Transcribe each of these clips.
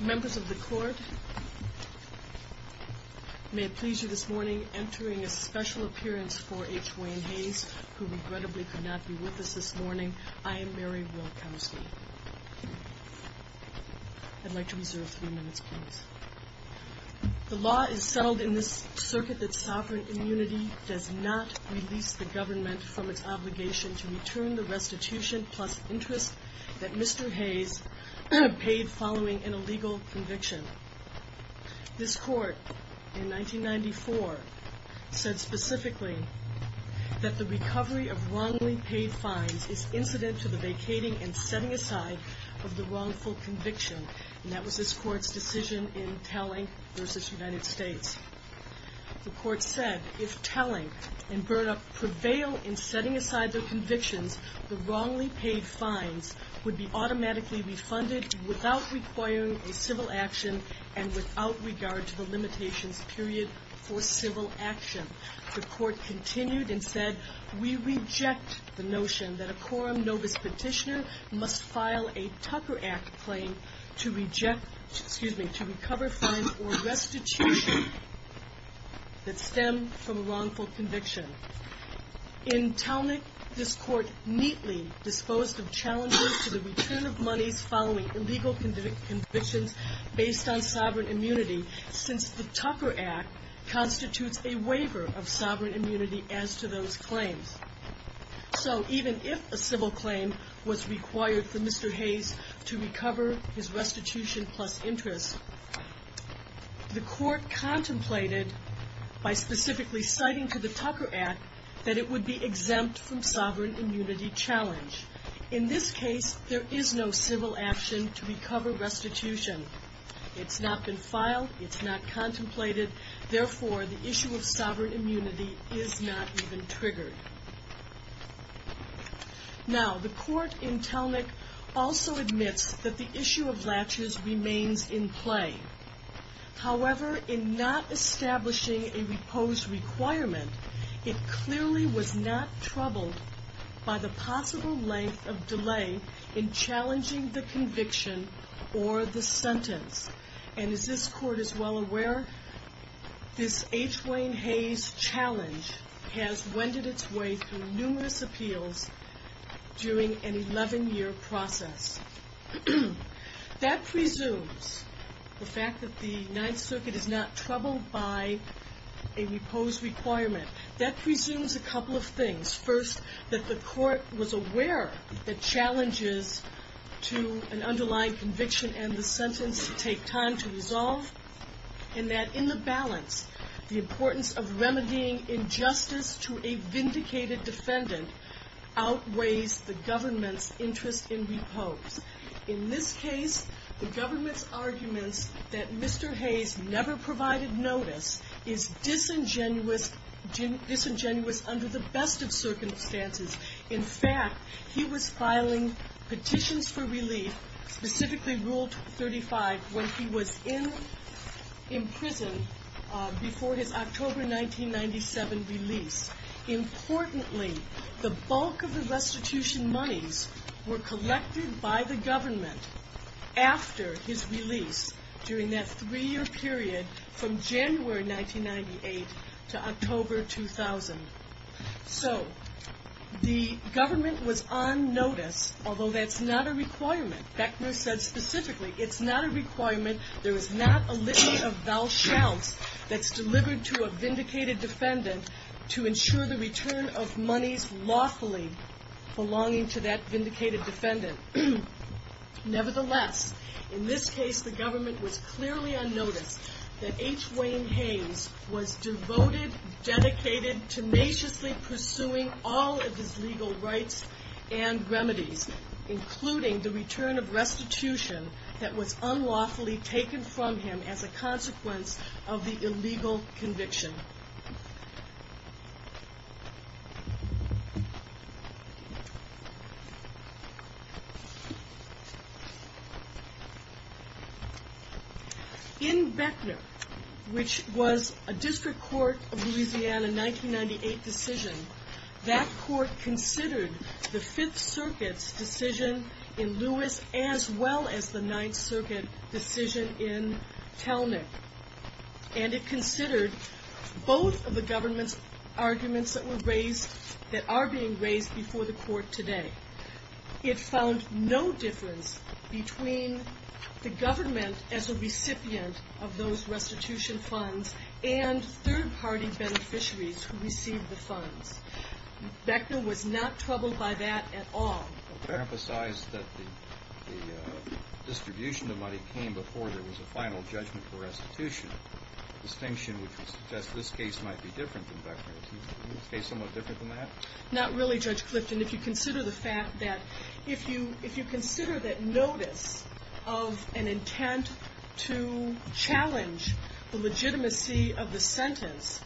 Members of the Court, may it please you this morning, entering a special appearance for H. Wayne Hayes, who regrettably could not be with us this morning, I am Mary Wilkowsky. I'd like to reserve three minutes, please. The law is settled in this circuit that sovereign immunity does not release the government from its obligation to return the restitution plus interest that Mr. Hayes paid following an illegal conviction. This Court in 1994 said specifically that the recovery of wrongly paid fines is incident to the vacating and setting aside of the wrongful conviction. And that was this Court's decision in Telling v. United States. The Court said if Telling and Burnup prevail in setting aside their convictions, the wrongly paid fines would be automatically refunded without requiring a civil action and without regard to the limitations period for civil action. The Court continued and said, we reject the notion that a quorum novus petitioner must file a Tucker Act claim to reject, excuse me, to recover fines or restitution that stem from a wrongful conviction. In Telling, this Court neatly disposed of challenges to the return of monies following illegal convictions based on sovereign immunity, since the Tucker Act constitutes a waiver of sovereign immunity as to those claims. So even if a civil claim was required for Mr. Hayes to recover his restitution plus interest, the Court contemplated by specifically citing to the Tucker Act that it would be exempt from sovereign immunity challenge. In this case, there is no civil action to recover restitution. It's not been filed. It's not contemplated. Therefore, the issue is not even triggered. Now, the Court in Telnick also admits that the issue of latches remains in play. However, in not establishing a repose requirement, it clearly was not troubled by the possible length of delay in challenging the conviction or the sentence. And as this Wayne Hayes challenge has wended its way through numerous appeals during an 11-year process. That presumes the fact that the Ninth Circuit is not troubled by a repose requirement. That presumes a couple of things. First, that the Court was aware of the challenges to an underlying conviction and the sentence to take time to resolve, and that in the balance, the importance of remedying injustice to a vindicated defendant outweighs the government's interest in repose. In this case, the government's arguments that Mr. Hayes never provided notice is disingenuous under the best of circumstances. In fact, he was filing petitions for relief, specifically Rule 35, when he was in prison before his October 1997 release. Importantly, the bulk of the restitution monies were collected by the government after his release during that three-year period from January 1998 to October 2000. So, the government was on notice, although that's not a requirement. Beckner said specifically, it's not a requirement. There is not a litany of vowel shouts that's delivered to a vindicated defendant to ensure the return of monies lawfully belonging to that vindicated defendant. Nevertheless, in this case, the government was clearly on notice that H. Wayne Hayes was devoted, dedicated, tenaciously pursuing all of his legal rights and remedies, including the return of restitution that was unlawfully taken from him as a consequence of the illegal conviction. In Beckner, which was a district court of Louisiana 1998 decision, that court considered the Fifth Circuit's decision in Lewis as well as the Ninth Circuit decision in Telnick. And it considered both of the government's arguments that were raised, that are being raised before the court today. It found no difference between the government as a recipient of those restitution funds and third-party beneficiaries who received the funds. Beckner was not troubled by that at all. I would emphasize that the distribution of money came before there was a final judgment for restitution, a distinction which would suggest this case might be different than Beckner's. Is this case somewhat different than that? Not really, Judge Clifton. If you consider the fact that – if you consider that notice of an intent to challenge the legitimacy of the sentence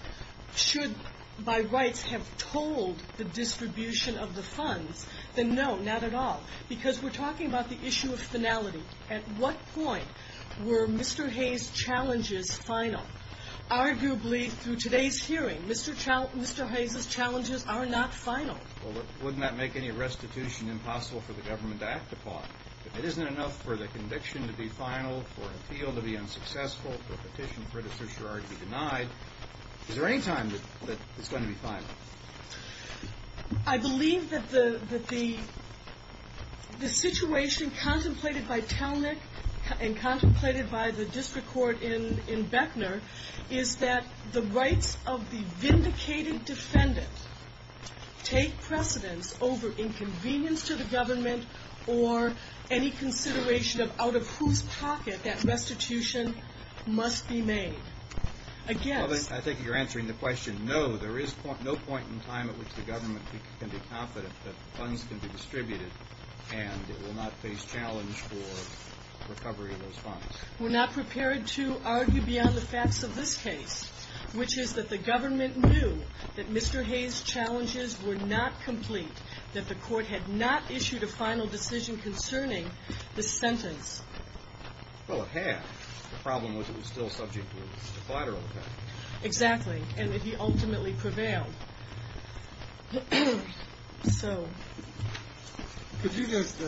should, by rights, have told the distribution of the funds, then no, not at all. Because we're talking about the issue of finality. At what point were Mr. Hayes' challenges final? Arguably, through today's hearing, Mr. Hayes' challenges are not final. Well, wouldn't that make any restitution impossible for the government to act upon? If it isn't enough for the conviction to be final, for an appeal to be unsuccessful, for a petition for the certiorari to be denied, is there any time that it's going to be final? I believe that the situation contemplated by Talnick and contemplated by the district court in Beckner is that the rights of the vindicated defendant take precedence over inconvenience to the government or any consideration of out of whose pocket that restitution must be made. Against – I think you're answering the question, no. There is no point in time at which the government can be confident that funds can be distributed and it will not face challenge for recovery of those funds. We're not prepared to argue beyond the facts of this case, which is that the government knew that Mr. Hayes' challenges were not complete, that the court had not issued a final decision concerning the sentence. Well, it had. The problem was it was still subject to a collateral effect. Exactly, and that he ultimately prevailed. Could you just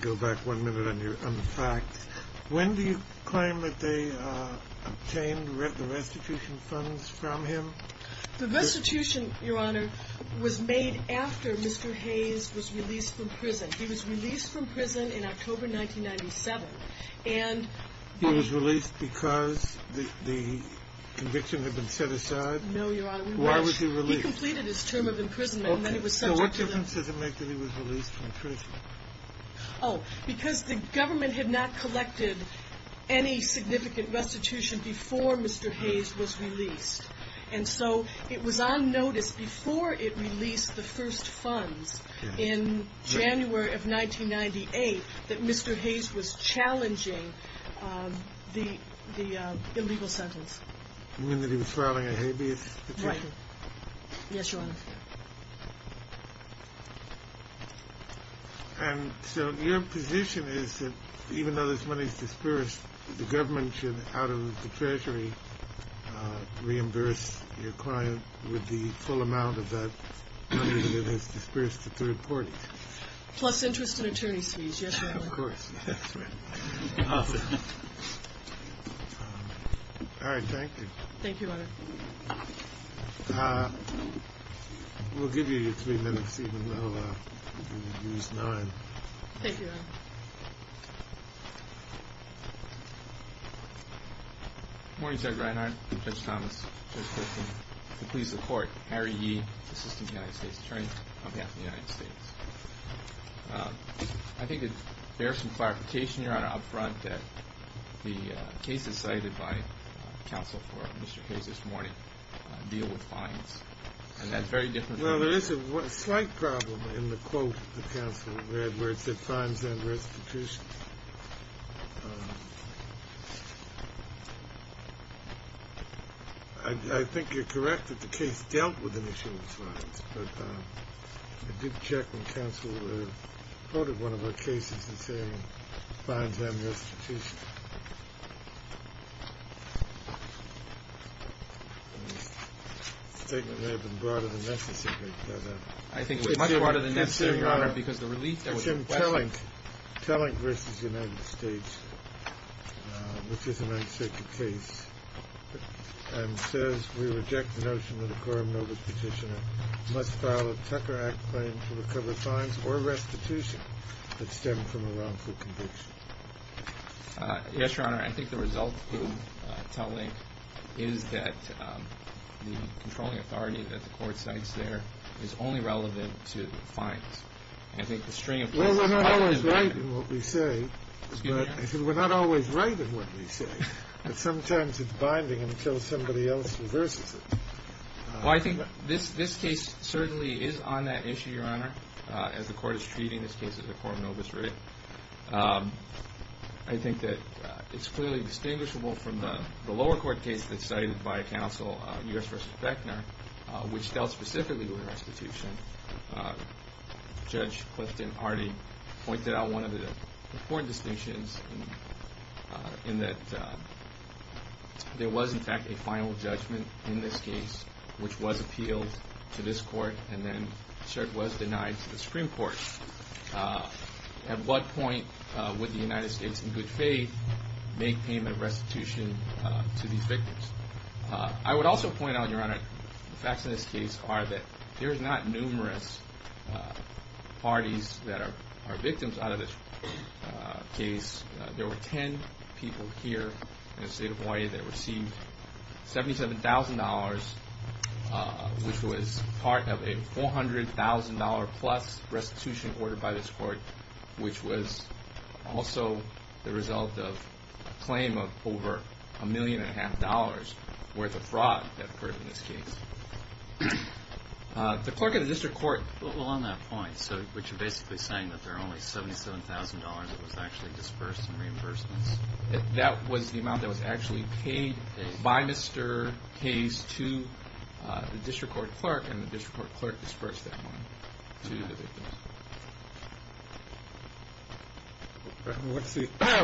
go back one minute on the facts? When do you claim that they obtained the restitution funds from him? The restitution, Your Honor, was made after Mr. Hayes was released from prison. He was released from prison in October 1997 and – He was released because the conviction had been set aside? No, Your Honor. Why was he released? He completed his term of imprisonment. Okay, so what difference does it make that he was released from prison? Oh, because the government had not collected any significant restitution before Mr. Hayes was released. And so it was on notice before it released the first funds in January of 1998 that Mr. Hayes was challenging the illegal sentence. You mean that he was filing a habeas petition? Right. Yes, Your Honor. And so your position is that even though this money is disbursed, the government pension out of the treasury reimbursed your client with the full amount of that money that is disbursed to third parties? Plus interest and attorney's fees, yes, Your Honor. Of course. All right, thank you. Thank you, Your Honor. We'll give you three minutes, even though you used nine. Thank you, Your Honor. Good morning, Judge Reinhardt, Judge Thomas, Judge Griffin. Please support Harry Yee, Assistant United States Attorney, on behalf of the United States. I think it bears some clarification, Your Honor, up front that the cases cited by counsel for Mr. Hayes this morning deal with fines. And that's very different from... Well, there is a slight problem in the quote the counsel read where it said, fines and restitution. I think you're correct that the case dealt with an issue of fines. But I did check when counsel quoted one of our cases and said fines and restitution. The statement may have been broader than necessary, but... I think it was much broader than necessary, Your Honor, because the relief that was requested... Tellink v. United States, which is an uncertain case, and says we reject the notion that a quorum notice petitioner must file a Tucker Act claim to recover fines or restitution that stem from a wrongful conviction. Yes, Your Honor, I think the result in Tellink is that the controlling authority that the court cites there is only relevant to fines. Well, we're not always right in what we say. Excuse me, Your Honor? I said we're not always right in what we say. But sometimes it's binding until somebody else reverses it. Well, I think this case certainly is on that issue, Your Honor, as the court is treating this case as a quorum notice writ. I think that it's clearly distinguishable from the lower court case that's cited by U.S. v. Beckner, which dealt specifically with restitution. Judge Clifton already pointed out one of the important distinctions in that there was, in fact, a final judgment in this case, which was appealed to this court and then was denied to the Supreme Court. At what point would the United States, in good faith, make payment of restitution to these victims? I would also point out, Your Honor, the facts in this case are that there's not numerous parties that are victims out of this case. There were 10 people here in the state of Hawaii that received $77,000, which was part of a $400,000-plus restitution order by this court, which was also the result of a claim of over $1.5 million worth of fraud that occurred in this case. The clerk of the district court, along that point, which is basically saying that there are only $77,000 that was actually disbursed in reimbursements, that was the amount that was actually paid by Mr. Hayes to the district court clerk, and the district court clerk disbursed that money to the victims.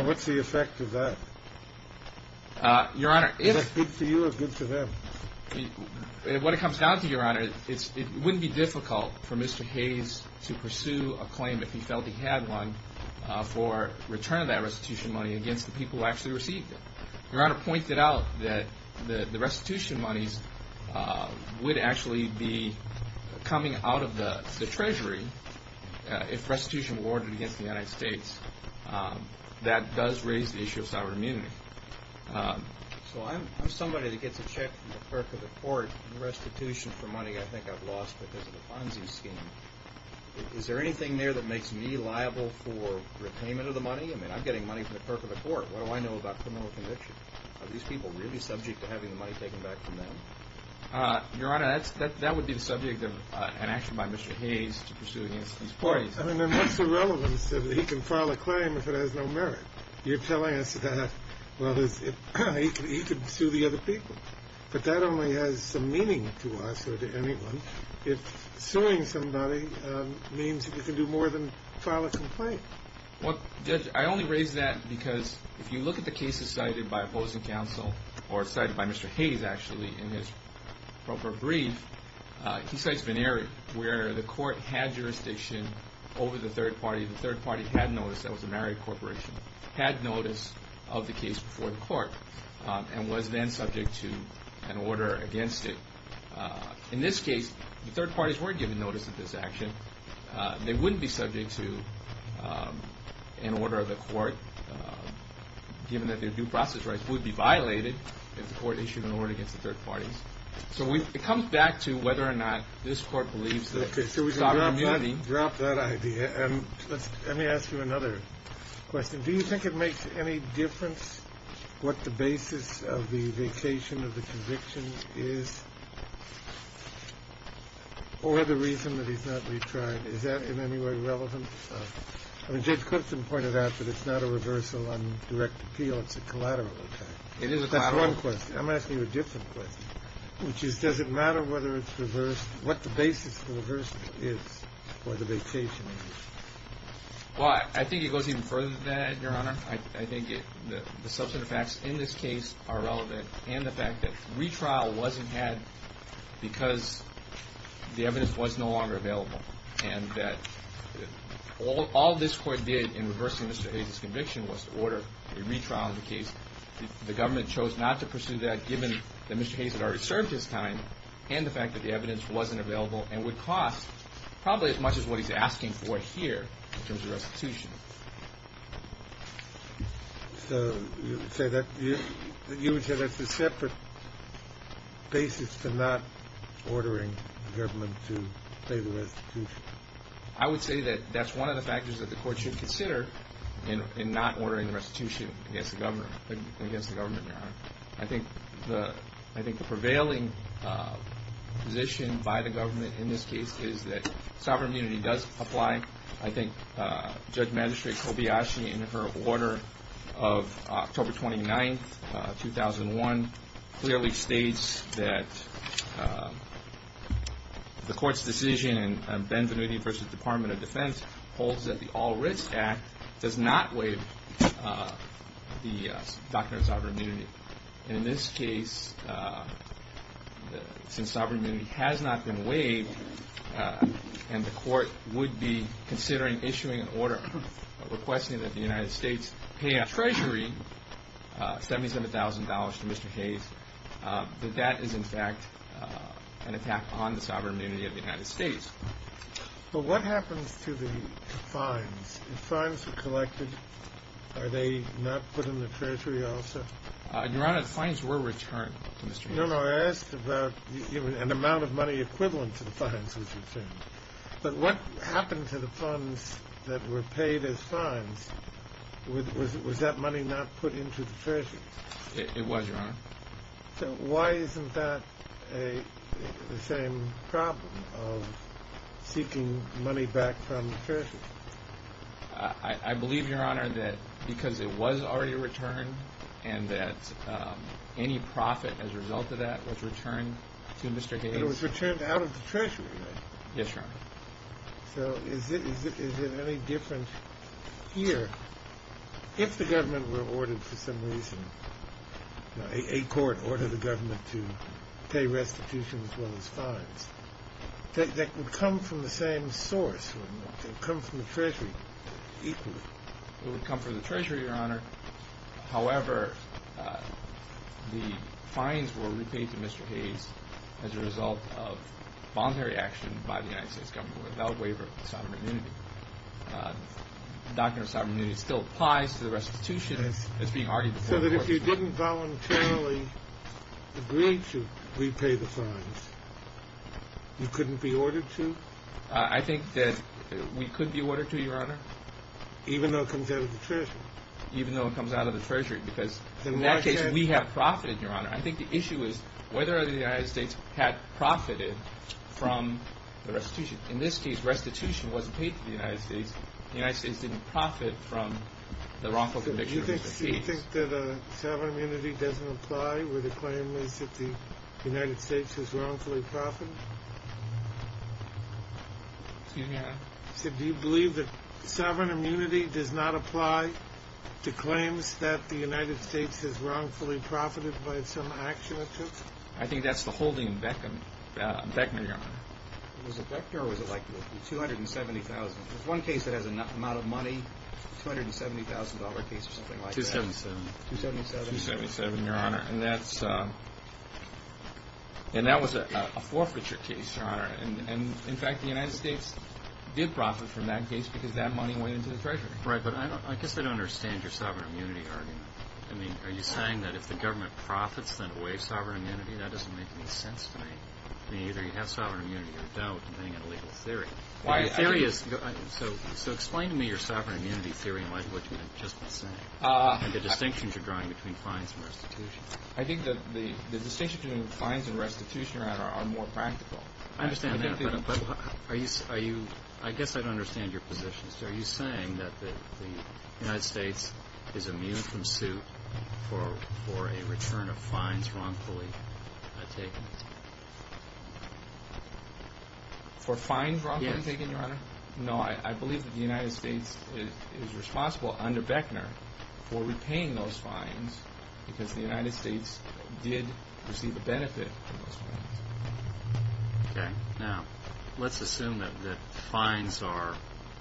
What's the effect of that? Your Honor, if... Is that good to you or good to them? When it comes down to it, Your Honor, it wouldn't be difficult for Mr. Hayes to pursue a claim if he felt he had one for return of that restitution money against the people who actually received it. Your Honor pointed out that the restitution monies would actually be coming out of the district court. If restitution were awarded against the United States, that does raise the issue of sovereign immunity. So I'm somebody that gets a check from the clerk of the court, restitution for money I think I've lost because of the Ponzi scheme. Is there anything there that makes me liable for repayment of the money? I mean, I'm getting money from the clerk of the court. What do I know about criminal conviction? Are these people really subject to having the money taken back from them? Your Honor, that would be the subject of an action by Mr. Hayes to pursue against these parties. I mean, then what's the relevance that he can file a claim if it has no merit? You're telling us that, well, he could sue the other people. But that only has some meaning to us or to anyone if suing somebody means that you can do more than file a complaint. Well, Judge, I only raise that because if you look at the cases cited by opposing counsel or cited by Mr. Hayes, actually, in his proper brief, he cites Vennari, where the court had jurisdiction over the third party. The third party had notice. That was a married corporation. Had notice of the case before the court and was then subject to an order against it. In this case, the third parties weren't given notice of this action. They wouldn't be subject to an order of the court given that their due process rights would be violated if the court issued an order against the third parties. So it comes back to whether or not this court believes that. Okay, so we can drop that idea. And let me ask you another question. Do you think it makes any difference what the basis of the vacation of the conviction is? Or the reason that he's not retried? Is that in any way relevant? I mean, Judge Clifton pointed out that it's not a reversal on direct appeal. It's a collateral effect. It is a collateral effect. That's one question. I'm asking you a different question, which is, does it matter whether it's reversed, what the basis for reversal is for the vacation? Well, I think it goes even further than that, Your Honor. I think the substantive facts in this case are relevant. And the fact that retrial wasn't had because the evidence was no longer available. And that all this court did in reversing Mr. Hayes' conviction was to order a retrial on the case. The government chose not to pursue that given that Mr. Hayes had already served his time and the fact that the evidence wasn't available and would cost probably as much as what he's asking for here in terms of restitution. So you would say that's a separate basis for not ordering the government to pay the restitution? I would say that that's one of the factors that the court should consider in not ordering restitution against the government, Your Honor. I think the prevailing position by the government in this case is that sovereign immunity does apply. I think Judge Magistrate Kobayashi, in her order of October 29, 2001, clearly states that the court's decision in Benvenuti v. Department of Defense holds that the All-Risk Act does not waive the doctrine of sovereign immunity. And in this case, since sovereign immunity has not been waived and the court would be considering issuing an order requesting that the United States pay our Treasury $77,000 to Mr. Hayes, that that is in fact an attack on the sovereign immunity of the United States. But what happens to the fines? If fines are collected, are they not put in the Treasury also? Your Honor, fines were returned to Mr. Hayes. No, no. I asked about an amount of money equivalent to the fines was returned. But what happened to the funds that were paid as fines? Was that money not put into the Treasury? It was, Your Honor. So why isn't that the same problem of seeking money back from the Treasury? I believe, Your Honor, that because it was already returned and that any profit as a result of that was returned to Mr. Hayes. But it was returned out of the Treasury, right? Yes, Your Honor. So is it any different here? If the government were ordered for some reason, a court ordered the government to pay restitution as well as fines, that would come from the same source, would it not? It would come from the Treasury equally. It would come from the Treasury, Your Honor. However, the fines were repaid to Mr. Hayes as a result of voluntary action by the United States government without waiver of sovereignty. The doctrine of sovereignty still applies to the restitution as being argued before the courts. So that if you didn't voluntarily agree to repay the fines, you couldn't be ordered to? I think that we could be ordered to, Your Honor. Even though it comes out of the Treasury? Even though it comes out of the Treasury, because in that case, we have profited, Your Honor. I think the issue is whether the United States had profited from the restitution. In this case, restitution wasn't paid to the United States. The United States didn't profit from the wrongful conviction of Mr. Hayes. So you think that sovereign immunity doesn't apply where the claim is that the United States has wrongfully profited? Excuse me, Your Honor? Do you believe that sovereign immunity does not apply to claims that the United States has wrongfully profited by some action it took? I think that's the holding in Beckner, Your Honor. Was it Beckner or was it like 270,000? There's one case that has an amount of money, $270,000 case or something like that. 277. 277, Your Honor. And that was a forfeiture case, Your Honor. And, in fact, the United States did profit from that case because that money went into the Treasury. Right, but I guess I don't understand your sovereign immunity argument. I mean, are you saying that if the government profits, then it waives sovereign immunity? That doesn't make any sense to me. I mean, either you have sovereign immunity or don't, depending on the legal theory. So explain to me your sovereign immunity theory and what you have just been saying and the distinctions you're drawing between fines and restitution. I think that the distinctions between fines and restitution, Your Honor, are more practical. I understand that, but I guess I don't understand your position. Are you saying that the United States is immune from suit for a return of fines wrongfully taken? For fines wrongfully taken, Your Honor? Yes. No, I believe that the United States is responsible under Beckner for repaying those fines because the United States did receive a benefit from those fines. Okay. Now, let's assume that fines are,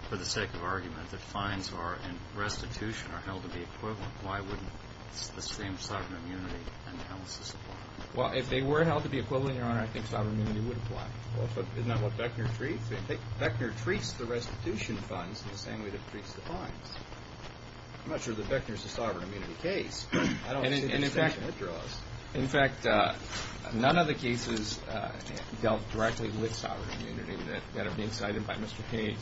for the sake of argument, that fines are in restitution are held to be equivalent. Why wouldn't the same sovereign immunity analysis apply? Well, if they were held to be equivalent, Your Honor, I think sovereign immunity would apply. Well, but isn't that what Beckner treats? Beckner treats the restitution funds in the same way that he treats the fines. I'm not sure that Beckner is a sovereign immunity case. I don't see the distinction that draws. In fact, none of the cases dealt directly with sovereign immunity that are being cited by Mr. Cain.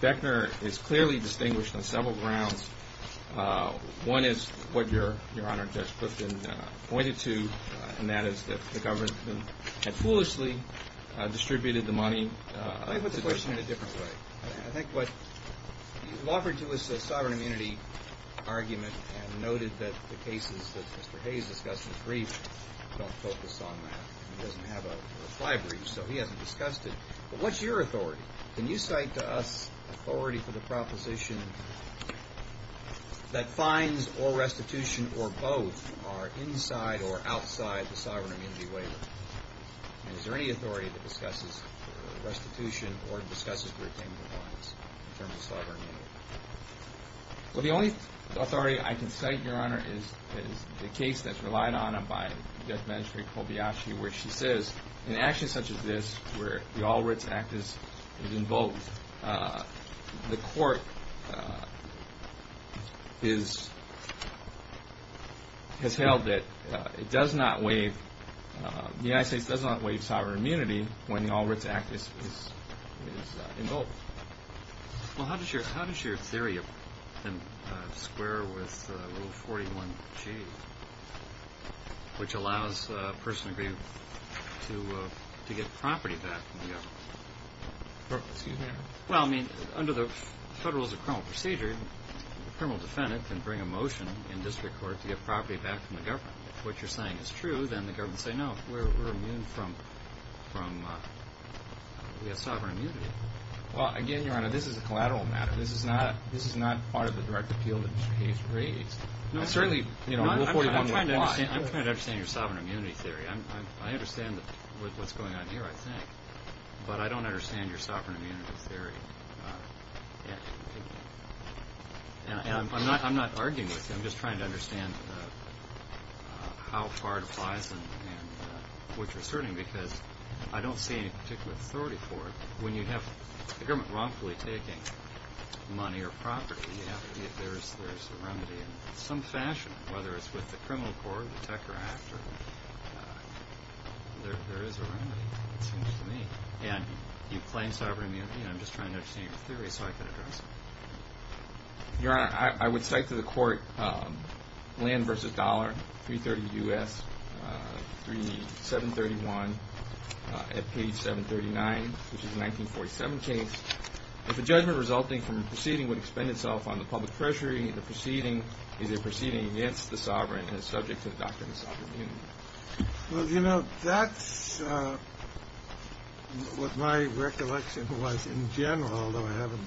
Beckner is clearly distinguished on several grounds. One is what Your Honor, Judge Clifton pointed to, and that is that the government had foolishly distributed the money. Let me put the question in a different way. I think what you've offered to us is a sovereign immunity argument and noted that the cases that Mr. Hayes discussed in his brief don't focus on that. He doesn't have a reply brief, so he hasn't discussed it. But what's your authority? Can you cite to us authority for the proposition that fines or restitution or both are inside or outside the sovereign immunity waiver? Is there any authority that discusses restitution or discusses retaining the fines in terms of sovereign immunity? Well, the only authority I can cite, Your Honor, is the case that's relied on by Judge Magistrate Kobayashi where she says in actions such as this where the All Writs Act is invoked, the court has held that it does not waive, the United States does not waive sovereign immunity when the All Writs Act is invoked. Well, how does your theory square with Rule 41G, which allows a person to get property back from the government? Excuse me, Your Honor? Well, I mean, under the Federalism of Criminal Procedure, a criminal defendant can bring a motion in district court to get property back from the government. If what you're saying is true, then the government will say, no, we're immune from sovereign immunity. Well, again, Your Honor, this is a collateral matter. This is not part of the direct appeal that Mr. Hayes raised. I'm trying to understand your sovereign immunity theory. I understand what's going on here, I think, but I don't understand your sovereign immunity theory. I'm not arguing with you. I'm just trying to understand how far it applies and what you're asserting because I don't see any particular authority for it. When you have the government wrongfully taking money or property, there is a remedy in some fashion, whether it's with the criminal court or the Tucker Act. There is a remedy, it seems to me. And you claim sovereign immunity. I'm just trying to understand your theory so I can address it. Your Honor, I would cite to the court Land v. Dollar, 330 U.S., 731, at page 739, which is a 1947 case. If a judgment resulting from a proceeding would expend itself on the public treasury, the proceeding is a proceeding against the sovereign and is subject to the doctrine of sovereign immunity. Well, you know, that's what my recollection was in general, although I haven't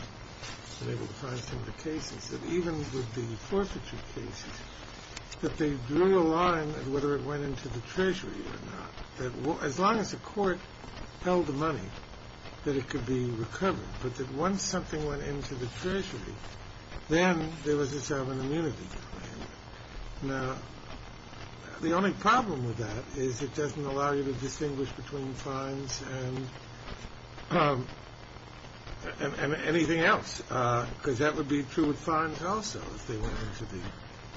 been able to find some of the cases, that even with the forfeiture cases, that they drew a line at whether it went into the treasury or not, that as long as the court held the money, that it could be recovered, but that once something went into the treasury, then there was a sovereign immunity claim. Now, the only problem with that is it doesn't allow you to distinguish between fines and anything else, because that would be true with fines also if they went into the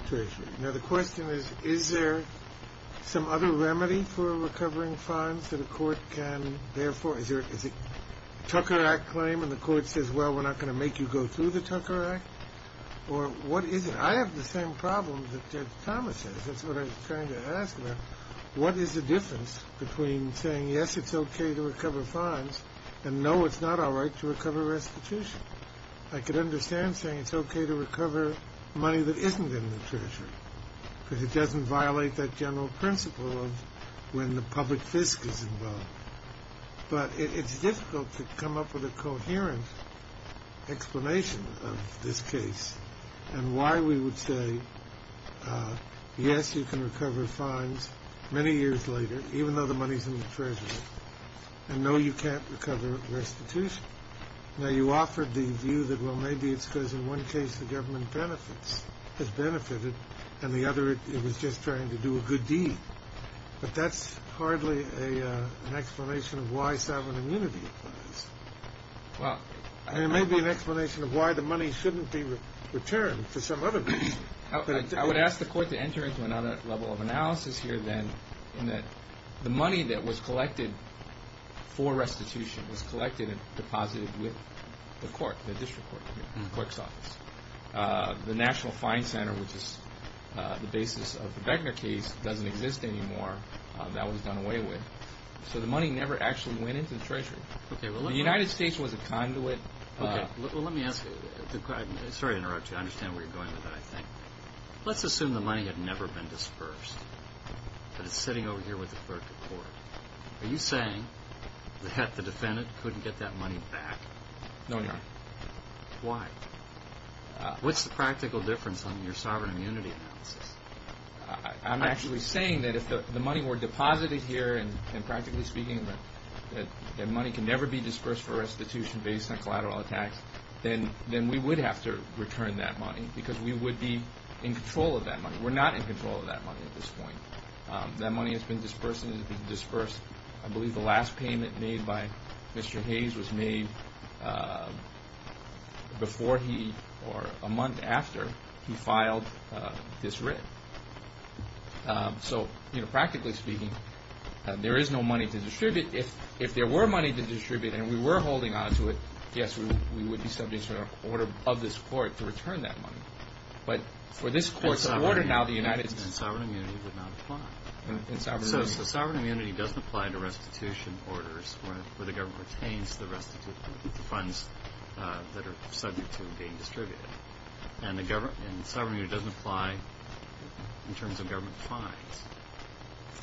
treasury. Now, the question is, is there some other remedy for recovering fines that a court can bear for? Is it a Tucker Act claim and the court says, well, we're not going to make you go through the Tucker Act? Or what is it? I have the same problem that Judge Thomas has. That's what I was trying to ask about. What is the difference between saying, yes, it's okay to recover fines, and no, it's not all right to recover restitution? I could understand saying it's okay to recover money that isn't in the treasury, because it doesn't violate that general principle of when the public fisc is involved. But it's difficult to come up with a coherent explanation of this case and why we would say, yes, you can recover fines many years later, even though the money's in the treasury, and no, you can't recover restitution. Now, you offered the view that, well, maybe it's because in one case the government benefits, has benefited, and the other, it was just trying to do a good deed. But that's hardly an explanation of why sovereign immunity applies. There may be an explanation of why the money shouldn't be returned for some other reason. I would ask the court to enter into another level of analysis here, then, in that the money that was collected for restitution was collected and deposited with the court, the district court, the clerk's office. The National Fine Center, which is the basis of the Beckner case, doesn't exist anymore. That was done away with. So the money never actually went into the treasury. The United States was a conduit. Well, let me ask you. Sorry to interrupt you. I understand where you're going with that, I think. Let's assume the money had never been dispersed, but it's sitting over here with the clerk of court. Are you saying the defendant couldn't get that money back? No, Your Honor. Why? What's the practical difference on your sovereign immunity analysis? I'm actually saying that if the money were deposited here, and practically speaking, that money can never be dispersed for restitution based on collateral attacks, then we would have to return that money because we would be in control of that money. We're not in control of that money at this point. That money has been dispersed and has been dispersed. I believe the last payment made by Mr. Hayes was made before he, or a month after, he filed this writ. So, you know, practically speaking, there is no money to distribute. If there were money to distribute and we were holding on to it, yes, we would be subject to an order of this court to return that money. But for this court's order now, the United States… And sovereign immunity would not apply. Sovereign immunity doesn't apply to restitution orders where the government retains the restitution funds that are subject to being distributed. And sovereign immunity doesn't apply in terms of government fines.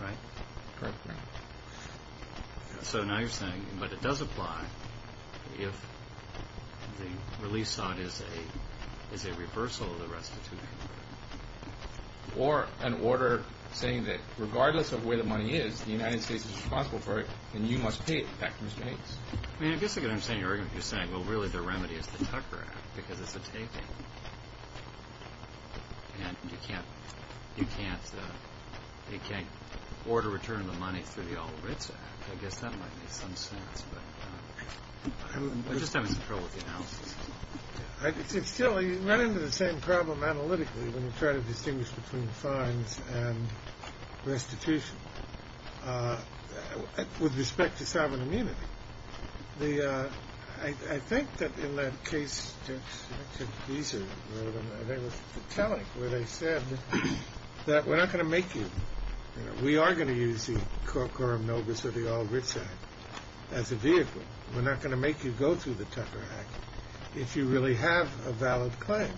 Right? Correctly. So now you're saying, but it does apply if the release sought is a reversal of the restitution order. Or an order saying that regardless of where the money is, the United States is responsible for it and you must pay it back to Mr. Hayes. I mean, I guess I can understand your argument. You're saying, well, really the remedy is the Tucker Act because it's a taping. And you can't order return of the money through the All Writs Act. I guess that might make some sense. But I'm just having some trouble with the analysis. Still, you run into the same problem analytically when you try to distinguish between fines and restitution. With respect to sovereign immunity, I think that in that case, they were telling where they said that we're not going to make you. We are going to use the Coram Novus or the All Writs Act as a vehicle. We're not going to make you go through the Tucker Act if you really have a valid claim.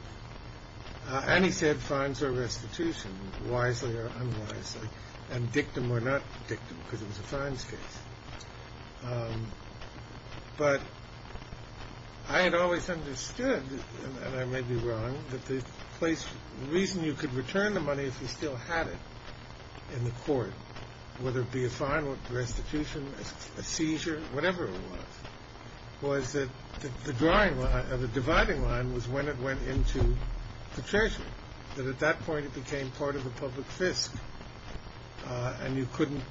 And he said fines or restitution, wisely or unwisely, and dictum or not dictum because it was a fines case. But I had always understood, and I may be wrong, that the reason you could return the money if you still had it in the court, whether it be a fine or restitution, a seizure, whatever it was, was that the dividing line was when it went into the treasury, that at that point it became part of a public fisc. And you couldn't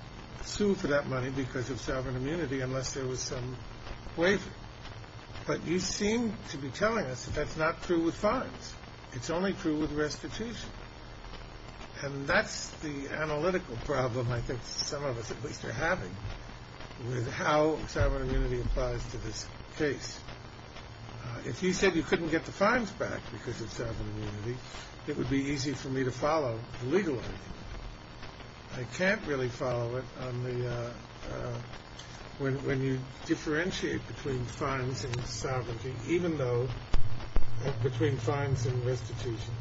sue for that money because of sovereign immunity unless there was some waiver. But you seem to be telling us that that's not true with fines. It's only true with restitution. And that's the analytical problem I think some of us at least are having with how sovereign immunity applies to this case. If you said you couldn't get the fines back because of sovereign immunity, it would be easy for me to follow the legal argument. I can't really follow it when you differentiate between fines and sovereignty, even though between fines and restitution,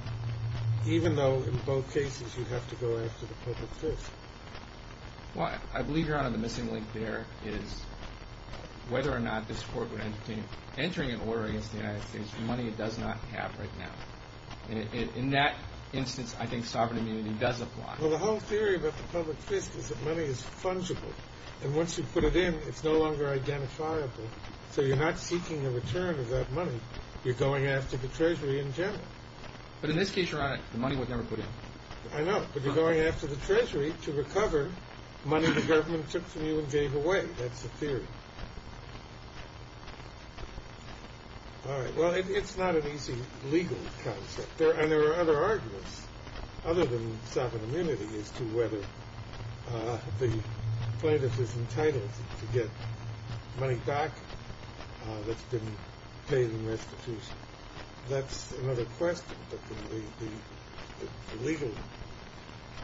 even though in both cases you have to go after the public fisc. Well, I believe you're on to the missing link there, is whether or not this Court would entertain entering an order against the United States for money it does not have right now. In that instance, I think sovereign immunity does apply. Well, the whole theory about the public fisc is that money is fungible. And once you put it in, it's no longer identifiable. So you're not seeking a return of that money. You're going after the treasury in general. But in this case, Your Honor, the money was never put in. I know, but you're going after the treasury to recover money the government took from you and gave away. That's the theory. All right. Well, it's not an easy legal concept. And there are other arguments other than sovereign immunity as to whether the plaintiff is entitled to get money back that's been paid in restitution. That's another question. But the legal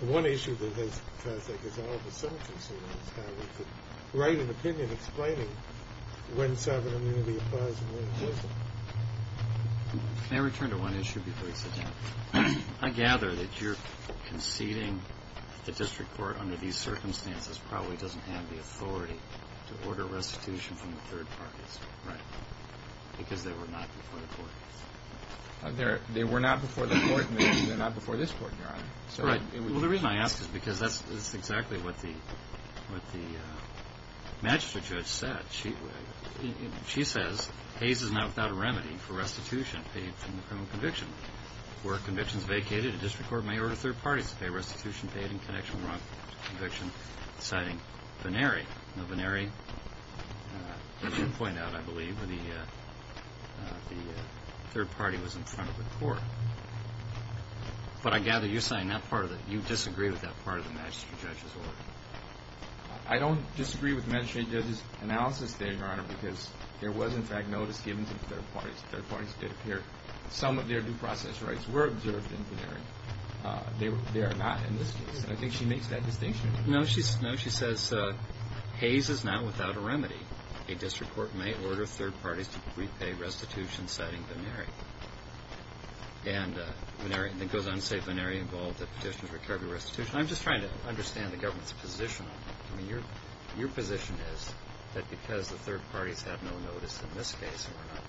one issue that has, I think, is all of us are concerned with is how we could write an opinion explaining when sovereign immunity applies and when it doesn't. Can I return to one issue before you sit down? I gather that your conceding the district court under these circumstances probably doesn't have the authority to order restitution from the third parties, right? Because they were not before the court. They were not before the court, and they're not before this court, Your Honor. Well, the reason I ask is because that's exactly what the Manchester judge said. She says Hays is now without a remedy for restitution paid from the criminal conviction. Where a conviction is vacated, a district court may order third parties to pay restitution paid in connection with the wrong conviction, citing Venneri. Now, Venneri, as you point out, I believe, the third party was in front of the court. But I gather you disagree with that part of the Manchester judge's order. I don't disagree with the Manchester judge's analysis there, Your Honor, because there was, in fact, notice given to the third parties. The third parties did appear. Some of their due process rights were observed in Venneri. They are not in this case. I think she makes that distinction. No, she says Hays is now without a remedy. A district court may order third parties to repay restitution, citing Venneri. And it goes on to say Venneri involved the petition for recovery of restitution. I'm just trying to understand the government's position on that. I mean, your position is that because the third parties have no notice in this case or are not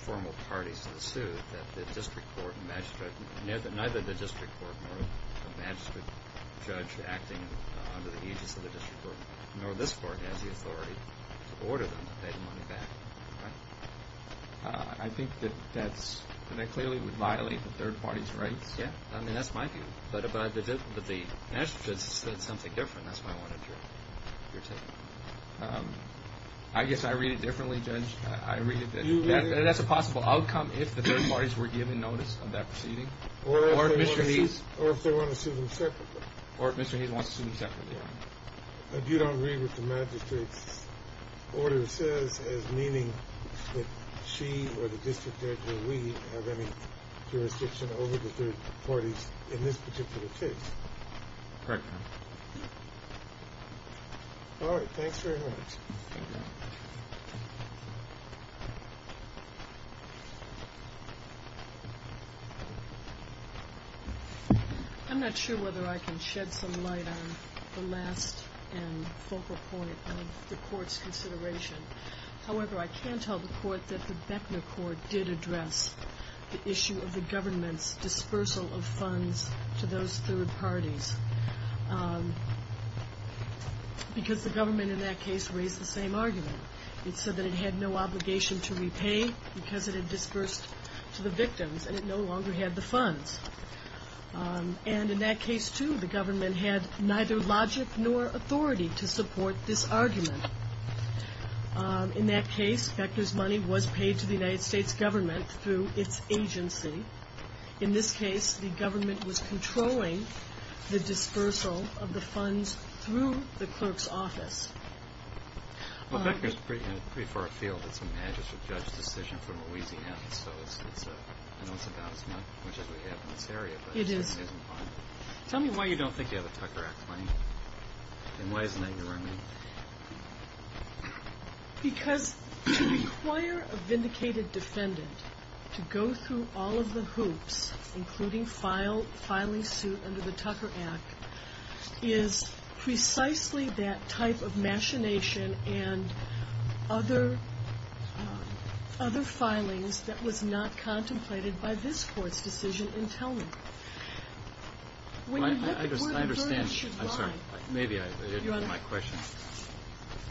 formal parties to the suit, that neither the district court nor the Manchester judge acting under the aegis of the district court, nor this court has the authority to order them to pay the money back, right? I think that that clearly would violate the third party's rights. Yes. I mean, that's my view. But the Manchester judge said something different. That's why I wanted your take on it. I guess I read it differently, Judge. I read it differently. That's a possible outcome if the third parties were given notice of that proceeding. Or if they want to sue them separately. Or if Mr. Hays wants to sue them separately. But you don't agree with what the magistrate's order says as meaning that she or the district judge or we have any jurisdiction over the third parties in this particular case. Correct, Your Honor. All right. Thanks very much. Thank you. I'm not sure whether I can shed some light on the last and focal point of the court's consideration. However, I can tell the court that the Beckner court did address the issue of the government's dispersal of funds to those third parties. Because the government in that case raised the same argument. It said that it had no obligation to repay because it had dispersed to the victims and it no longer had the funds. And in that case, too, the government had neither logic nor authority to support this argument. In that case, Beckner's money was paid to the United States government through its agency. In this case, the government was controlling the dispersal of the funds through the clerk's office. Well, Beckner's pretty far afield. It's a magistrate judge decision from Louisiana. So I know it's about as much as we have in this area. It is. Tell me why you don't think you have a Tucker Act claim and why isn't that your argument? Because to require a vindicated defendant to go through all of the hoops, including filing suit under the Tucker Act, is precisely that type of machination and other filings that was not contemplated by this Court's decision in Tellman. I understand. I'm sorry. Maybe I didn't hear my question.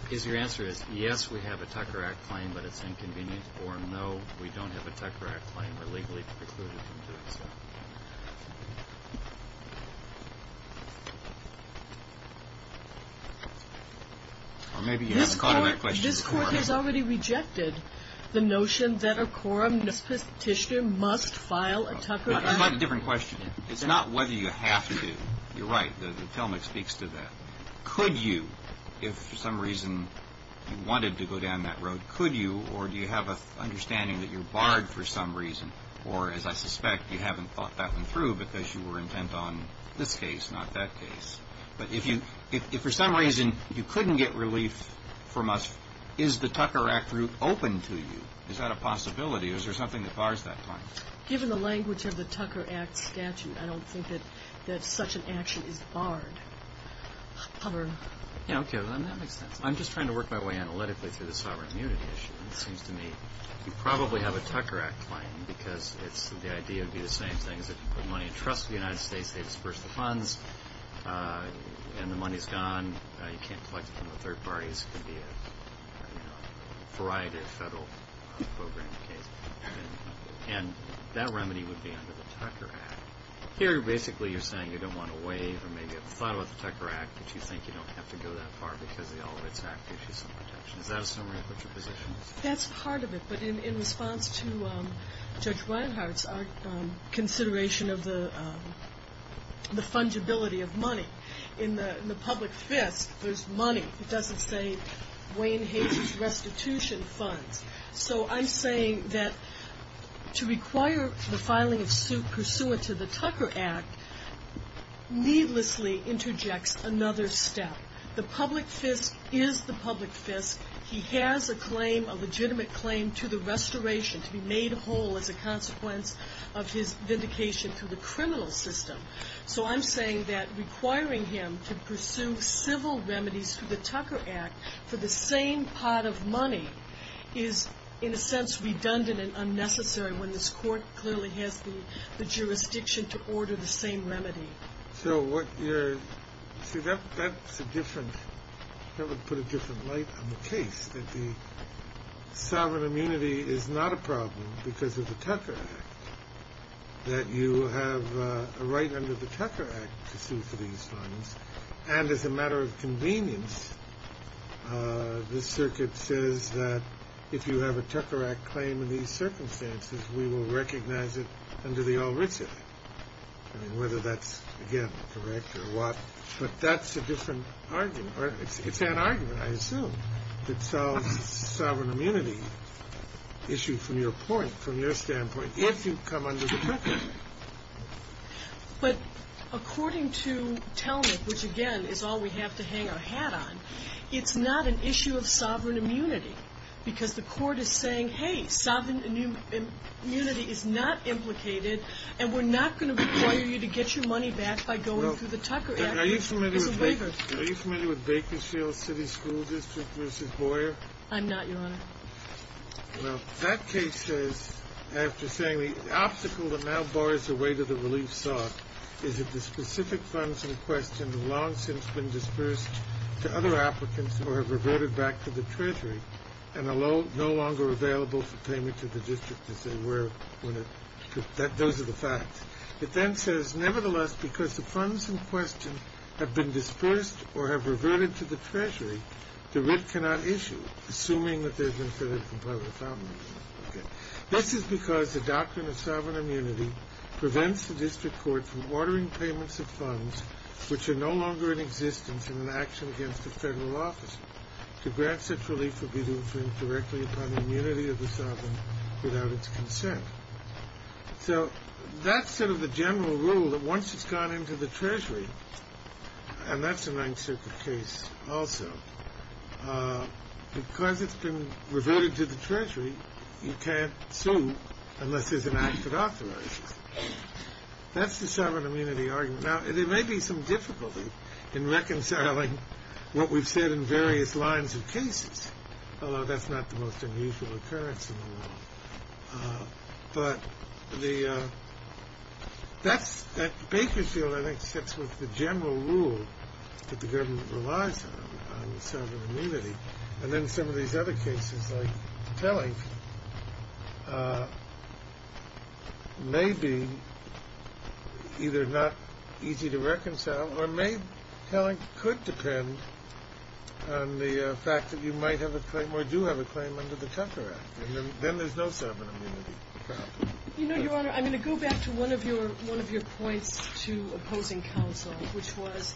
Because your answer is, yes, we have a Tucker Act claim, but it's inconvenient, or no, we don't have a Tucker Act claim. We're legally precluded from doing so. Or maybe you haven't called that question a quorum. This Court has already rejected the notion that a quorum must file a Tucker Act. It's quite a different question. It's not whether you have to. You're right. Tellman speaks to that. Could you, if for some reason you wanted to go down that road, could you or do you have an understanding that you're barred for some reason? Or, as I suspect, you haven't thought that one through because you were intent on this case, not that case. But if for some reason you couldn't get relief from us, is the Tucker Act route open to you? Is that a possibility? Is there something that bars that claim? Given the language of the Tucker Act statute, I don't think that such an action is barred. I don't care. That makes sense. I'm just trying to work my way analytically through the sovereign immunity issue. It seems to me you probably have a Tucker Act claim because the idea would be the same thing. If you put money in trust with the United States, they disperse the funds, and the money is gone. You can't collect it from the third parties. It could be a variety of federal programs. And that remedy would be under the Tucker Act. Here, basically, you're saying you don't want to waive or maybe haven't thought about the Tucker Act, but you think you don't have to go that far because the Olivets Act gives you some protection. Is that a summary of what your position is? That's part of it. But in response to Judge Reinhart's consideration of the fungibility of money, in the public fist, there's money. It doesn't say Wayne Hays' restitution funds. So I'm saying that to require the filing of suit pursuant to the Tucker Act needlessly interjects another step. The public fist is the public fist. He has a claim, a legitimate claim, to the restoration, to be made whole as a consequence of his vindication through the criminal system. So I'm saying that requiring him to pursue civil remedies through the Tucker Act for the same pot of money is, in a sense, redundant and unnecessary when this Court clearly has the jurisdiction to order the same remedy. So that would put a different light on the case, that the sovereign immunity is not a problem because of the Tucker Act, that you have a right under the Tucker Act to sue for these funds. And as a matter of convenience, this circuit says that if you have a Tucker Act claim in these circumstances, we will recognize it under the All-Rich Act. I mean, whether that's, again, correct or what. But that's a different argument. It's that argument, I assume, that solves the sovereign immunity issue from your point, from your standpoint, if you come under the Tucker Act. But according to Telnick, which, again, is all we have to hang our hat on, it's not an issue of sovereign immunity because the Court is saying, hey, sovereign immunity is not implicated, and we're not going to require you to get your money back by going through the Tucker Act as a waiver. Are you familiar with Bakersfield City School District v. Boyer? I'm not, Your Honor. Well, that case says, after saying, the obstacle that now bars the way to the relief sought is that the specific funds in question have long since been dispersed to other applicants or have reverted back to the Treasury and are no longer available for payment to the District, as they were when it... Those are the facts. It then says, nevertheless, because the funds in question have been dispersed or have reverted to the Treasury, the writ cannot issue, assuming that they've been fitted from part of the family. This is because the doctrine of sovereign immunity prevents the District Court from ordering payments of funds which are no longer in existence in an action against a federal officer to grant such relief would be to infringe directly upon the immunity of the sovereign without its consent. So that's sort of the general rule, that once it's gone into the Treasury, and that's a Ninth Circuit case also, because it's been reverted to the Treasury, you can't sue unless there's an act that authorizes it. That's the sovereign immunity argument. Now, there may be some difficulty in reconciling what we've said in various lines of cases, although that's not the most unusual occurrence in the world. But the... That's... Bakersfield, I think, sits with the general rule that the government relies on, on sovereign immunity. And then some of these other cases, like Telling, may be either not easy to reconcile or may... Telling could depend on the fact that you might have a claim, or do have a claim, under the Tucker Act. And then there's no sovereign immunity problem. You know, Your Honor, I'm going to go back to one of your points to opposing counsel, which was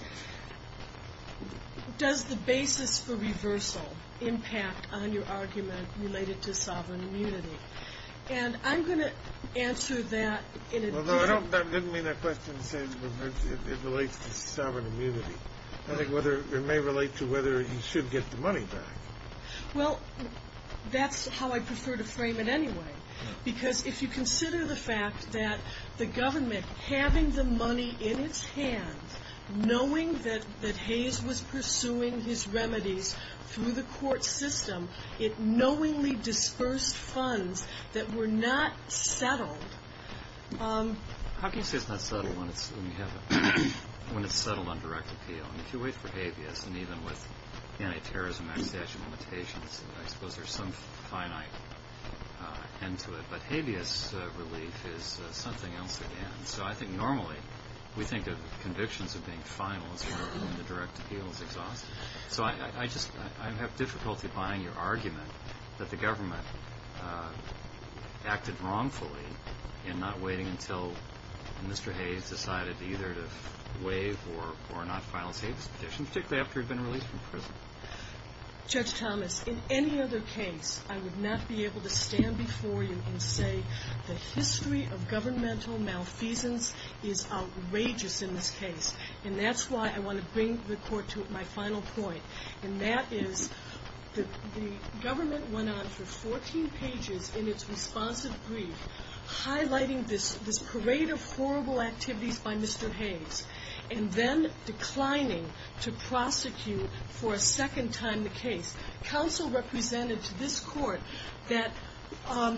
does the basis for reversal impact on your argument related to sovereign immunity? And I'm going to answer that in a... I didn't mean that question to say it relates to sovereign immunity. I think it may relate to whether you should get the money back. Well, that's how I prefer to frame it anyway. Because if you consider the fact that the government, having the money in its hands, knowing that Hayes was pursuing his remedies through the court system, it knowingly dispersed funds that were not settled How can you say it's not settled when it's... when it's settled on direct appeal? If you wait for habeas, and even with anti-terrorism act statute limitations, I suppose there's some finite end to it. But habeas relief is something else again. So I think normally, we think of convictions of being final as when the direct appeal is exhausted. So I just... I have difficulty buying your argument that the government acted wrongfully in not waiting until Mr. Hayes decided either to waive or not file his habeas petition, particularly after he'd been released from prison. Judge Thomas, in any other case, I would not be able to stand before you and say the history of governmental malfeasance is outrageous in this case. And that's why I want to bring the court to my final point. And that is, the government went on for 14 pages in its responsive brief, highlighting this parade of horrible activities by Mr. Hayes and then declining to prosecute for a second time the case. Counsel represented to this court that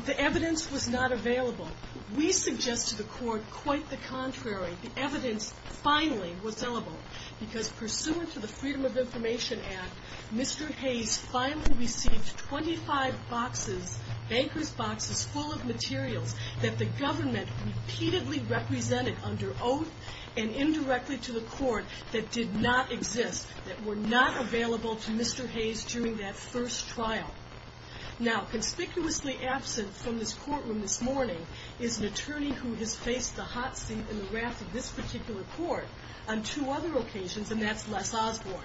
the evidence was not available. We suggest to the court quite the contrary. The evidence finally was available because pursuant to the Freedom of Information Act, Mr. Hayes finally received 25 boxes, bankers' boxes full of materials that the government repeatedly represented under oath and indirectly to the court that did not exist, that were not available to Mr. Hayes during that first trial. Now, conspicuously absent from this courtroom this morning is an attorney who has faced the hot seat in the raft of this particular court on two other occasions, and that's Les Osborne.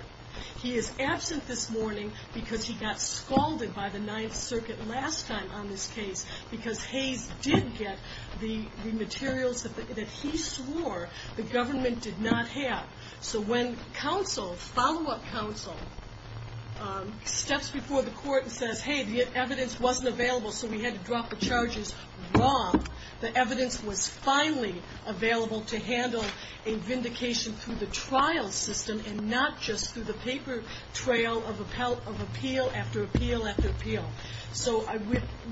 He is absent this morning because he got scalded by the 9th Circuit last time on this case because Hayes did get the materials that he swore the government did not have. So when counsel, follow-up counsel, steps before the court and says, hey, the evidence wasn't available so we had to drop the charges, wrong. The evidence was finally available to handle a vindication through the trial system and not just through the paper trail of appeal after appeal after appeal. So I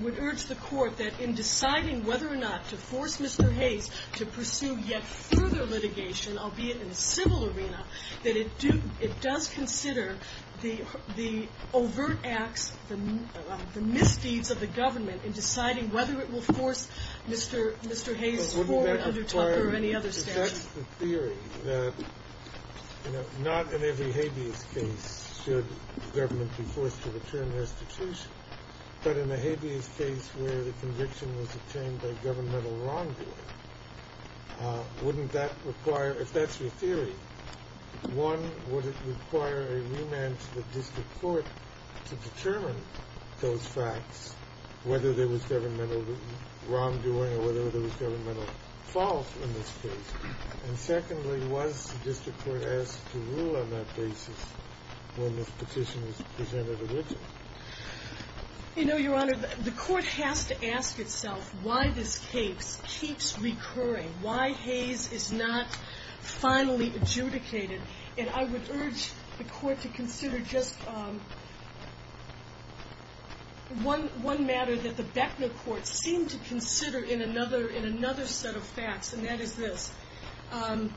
would urge the court that in deciding whether or not to force Mr. Hayes to pursue yet further litigation, albeit in a civil arena, that it does consider the overt acts, the misdeeds of the government, in deciding whether it will force Mr. Hayes forward under Tucker or any other statute. That's the theory that, you know, not in every habeas case should government be forced to return restitution, but in the habeas case where the conviction was obtained by governmental wrongdoing, wouldn't that require, if that's your theory, one, would it require a remand to the district court to determine those facts, whether there was governmental wrongdoing or whether there was governmental fault in this case, and secondly, was the district court asked to rule on that basis when this petition was presented originally? You know, Your Honor, the court has to ask itself why this case keeps recurring, why Hayes is not finally adjudicated, and I would urge the court to consider just one matter that the Beckner courts seem to consider in another set of facts, and that is this, and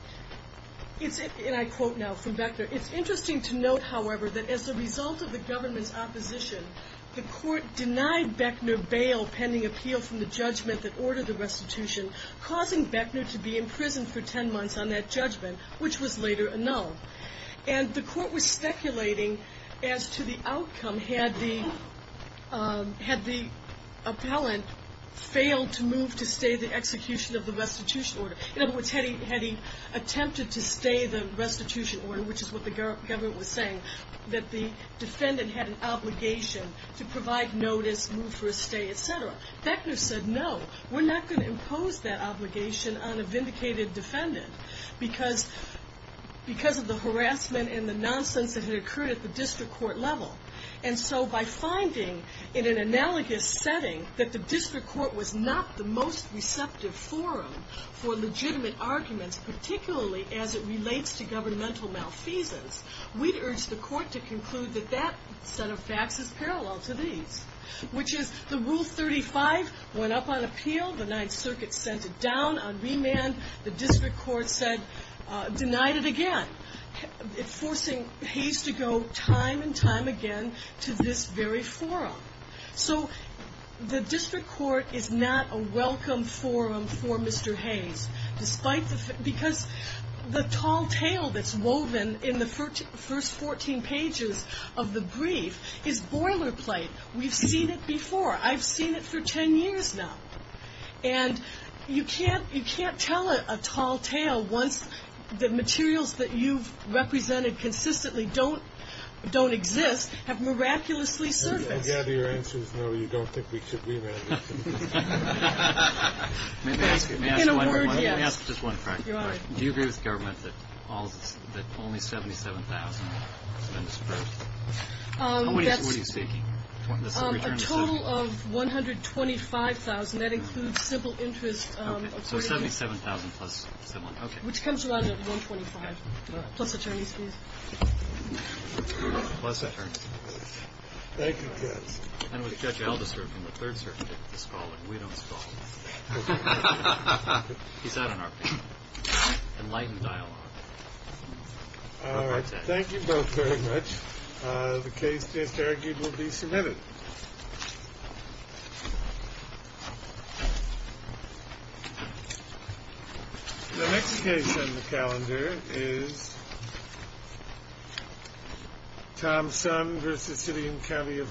I quote now from Beckner, it's interesting to note, however, that as a result of the government's opposition, the court denied Beckner bail pending appeal from the judgment that ordered the restitution, causing Beckner to be imprisoned for 10 months on that judgment, which was later annulled. And the court was speculating as to the outcome had the appellant failed to move to stay the execution of the restitution order. In other words, had he attempted to stay the restitution order, which is what the government was saying, that the defendant had an obligation to provide notice, move for a stay, etc. Beckner said, no, we're not going to impose that obligation on a vindicated defendant because of the harassment and the nonsense that had occurred at the district court level, and so by finding in an analogous setting that the district court was not the most receptive forum for legitimate arguments, particularly as it relates to governmental malfeasance, we'd urge the court to conclude that that set of facts is parallel to these, which is the Rule 35 went up on appeal, the Ninth Circuit sent it down on remand, the district court denied it again, forcing Hayes to go time and time again to this very forum. So the district court is not a welcome forum for Mr. Hayes, because the tall tale that's woven in the first 14 pages of the brief is boilerplate. We've seen it before. I've seen it for 10 years now. And you can't tell a tall tale once the materials that you've represented consistently don't exist have miraculously surfaced. I gather your answer is no, you don't think we should remand him. In a word, yes. Let me ask just one question. Do you agree with the government that only 77,000 have been suppressed? What are you seeking? A total of 125,000. That includes civil interest. So 77,000 plus civil interest. Which comes around to 125,000, plus attorney's fees. Plus attorney's fees. Thank you, Judge. And with Judge Alberson from the Third Circuit scrawling, we don't scrawl. He sat on our panel. Enlightened dialogue. All right. Thank you both very much. The case, just argued, will be submitted. The next case on the calendar is Tom Sun v. City and County of Honolulu.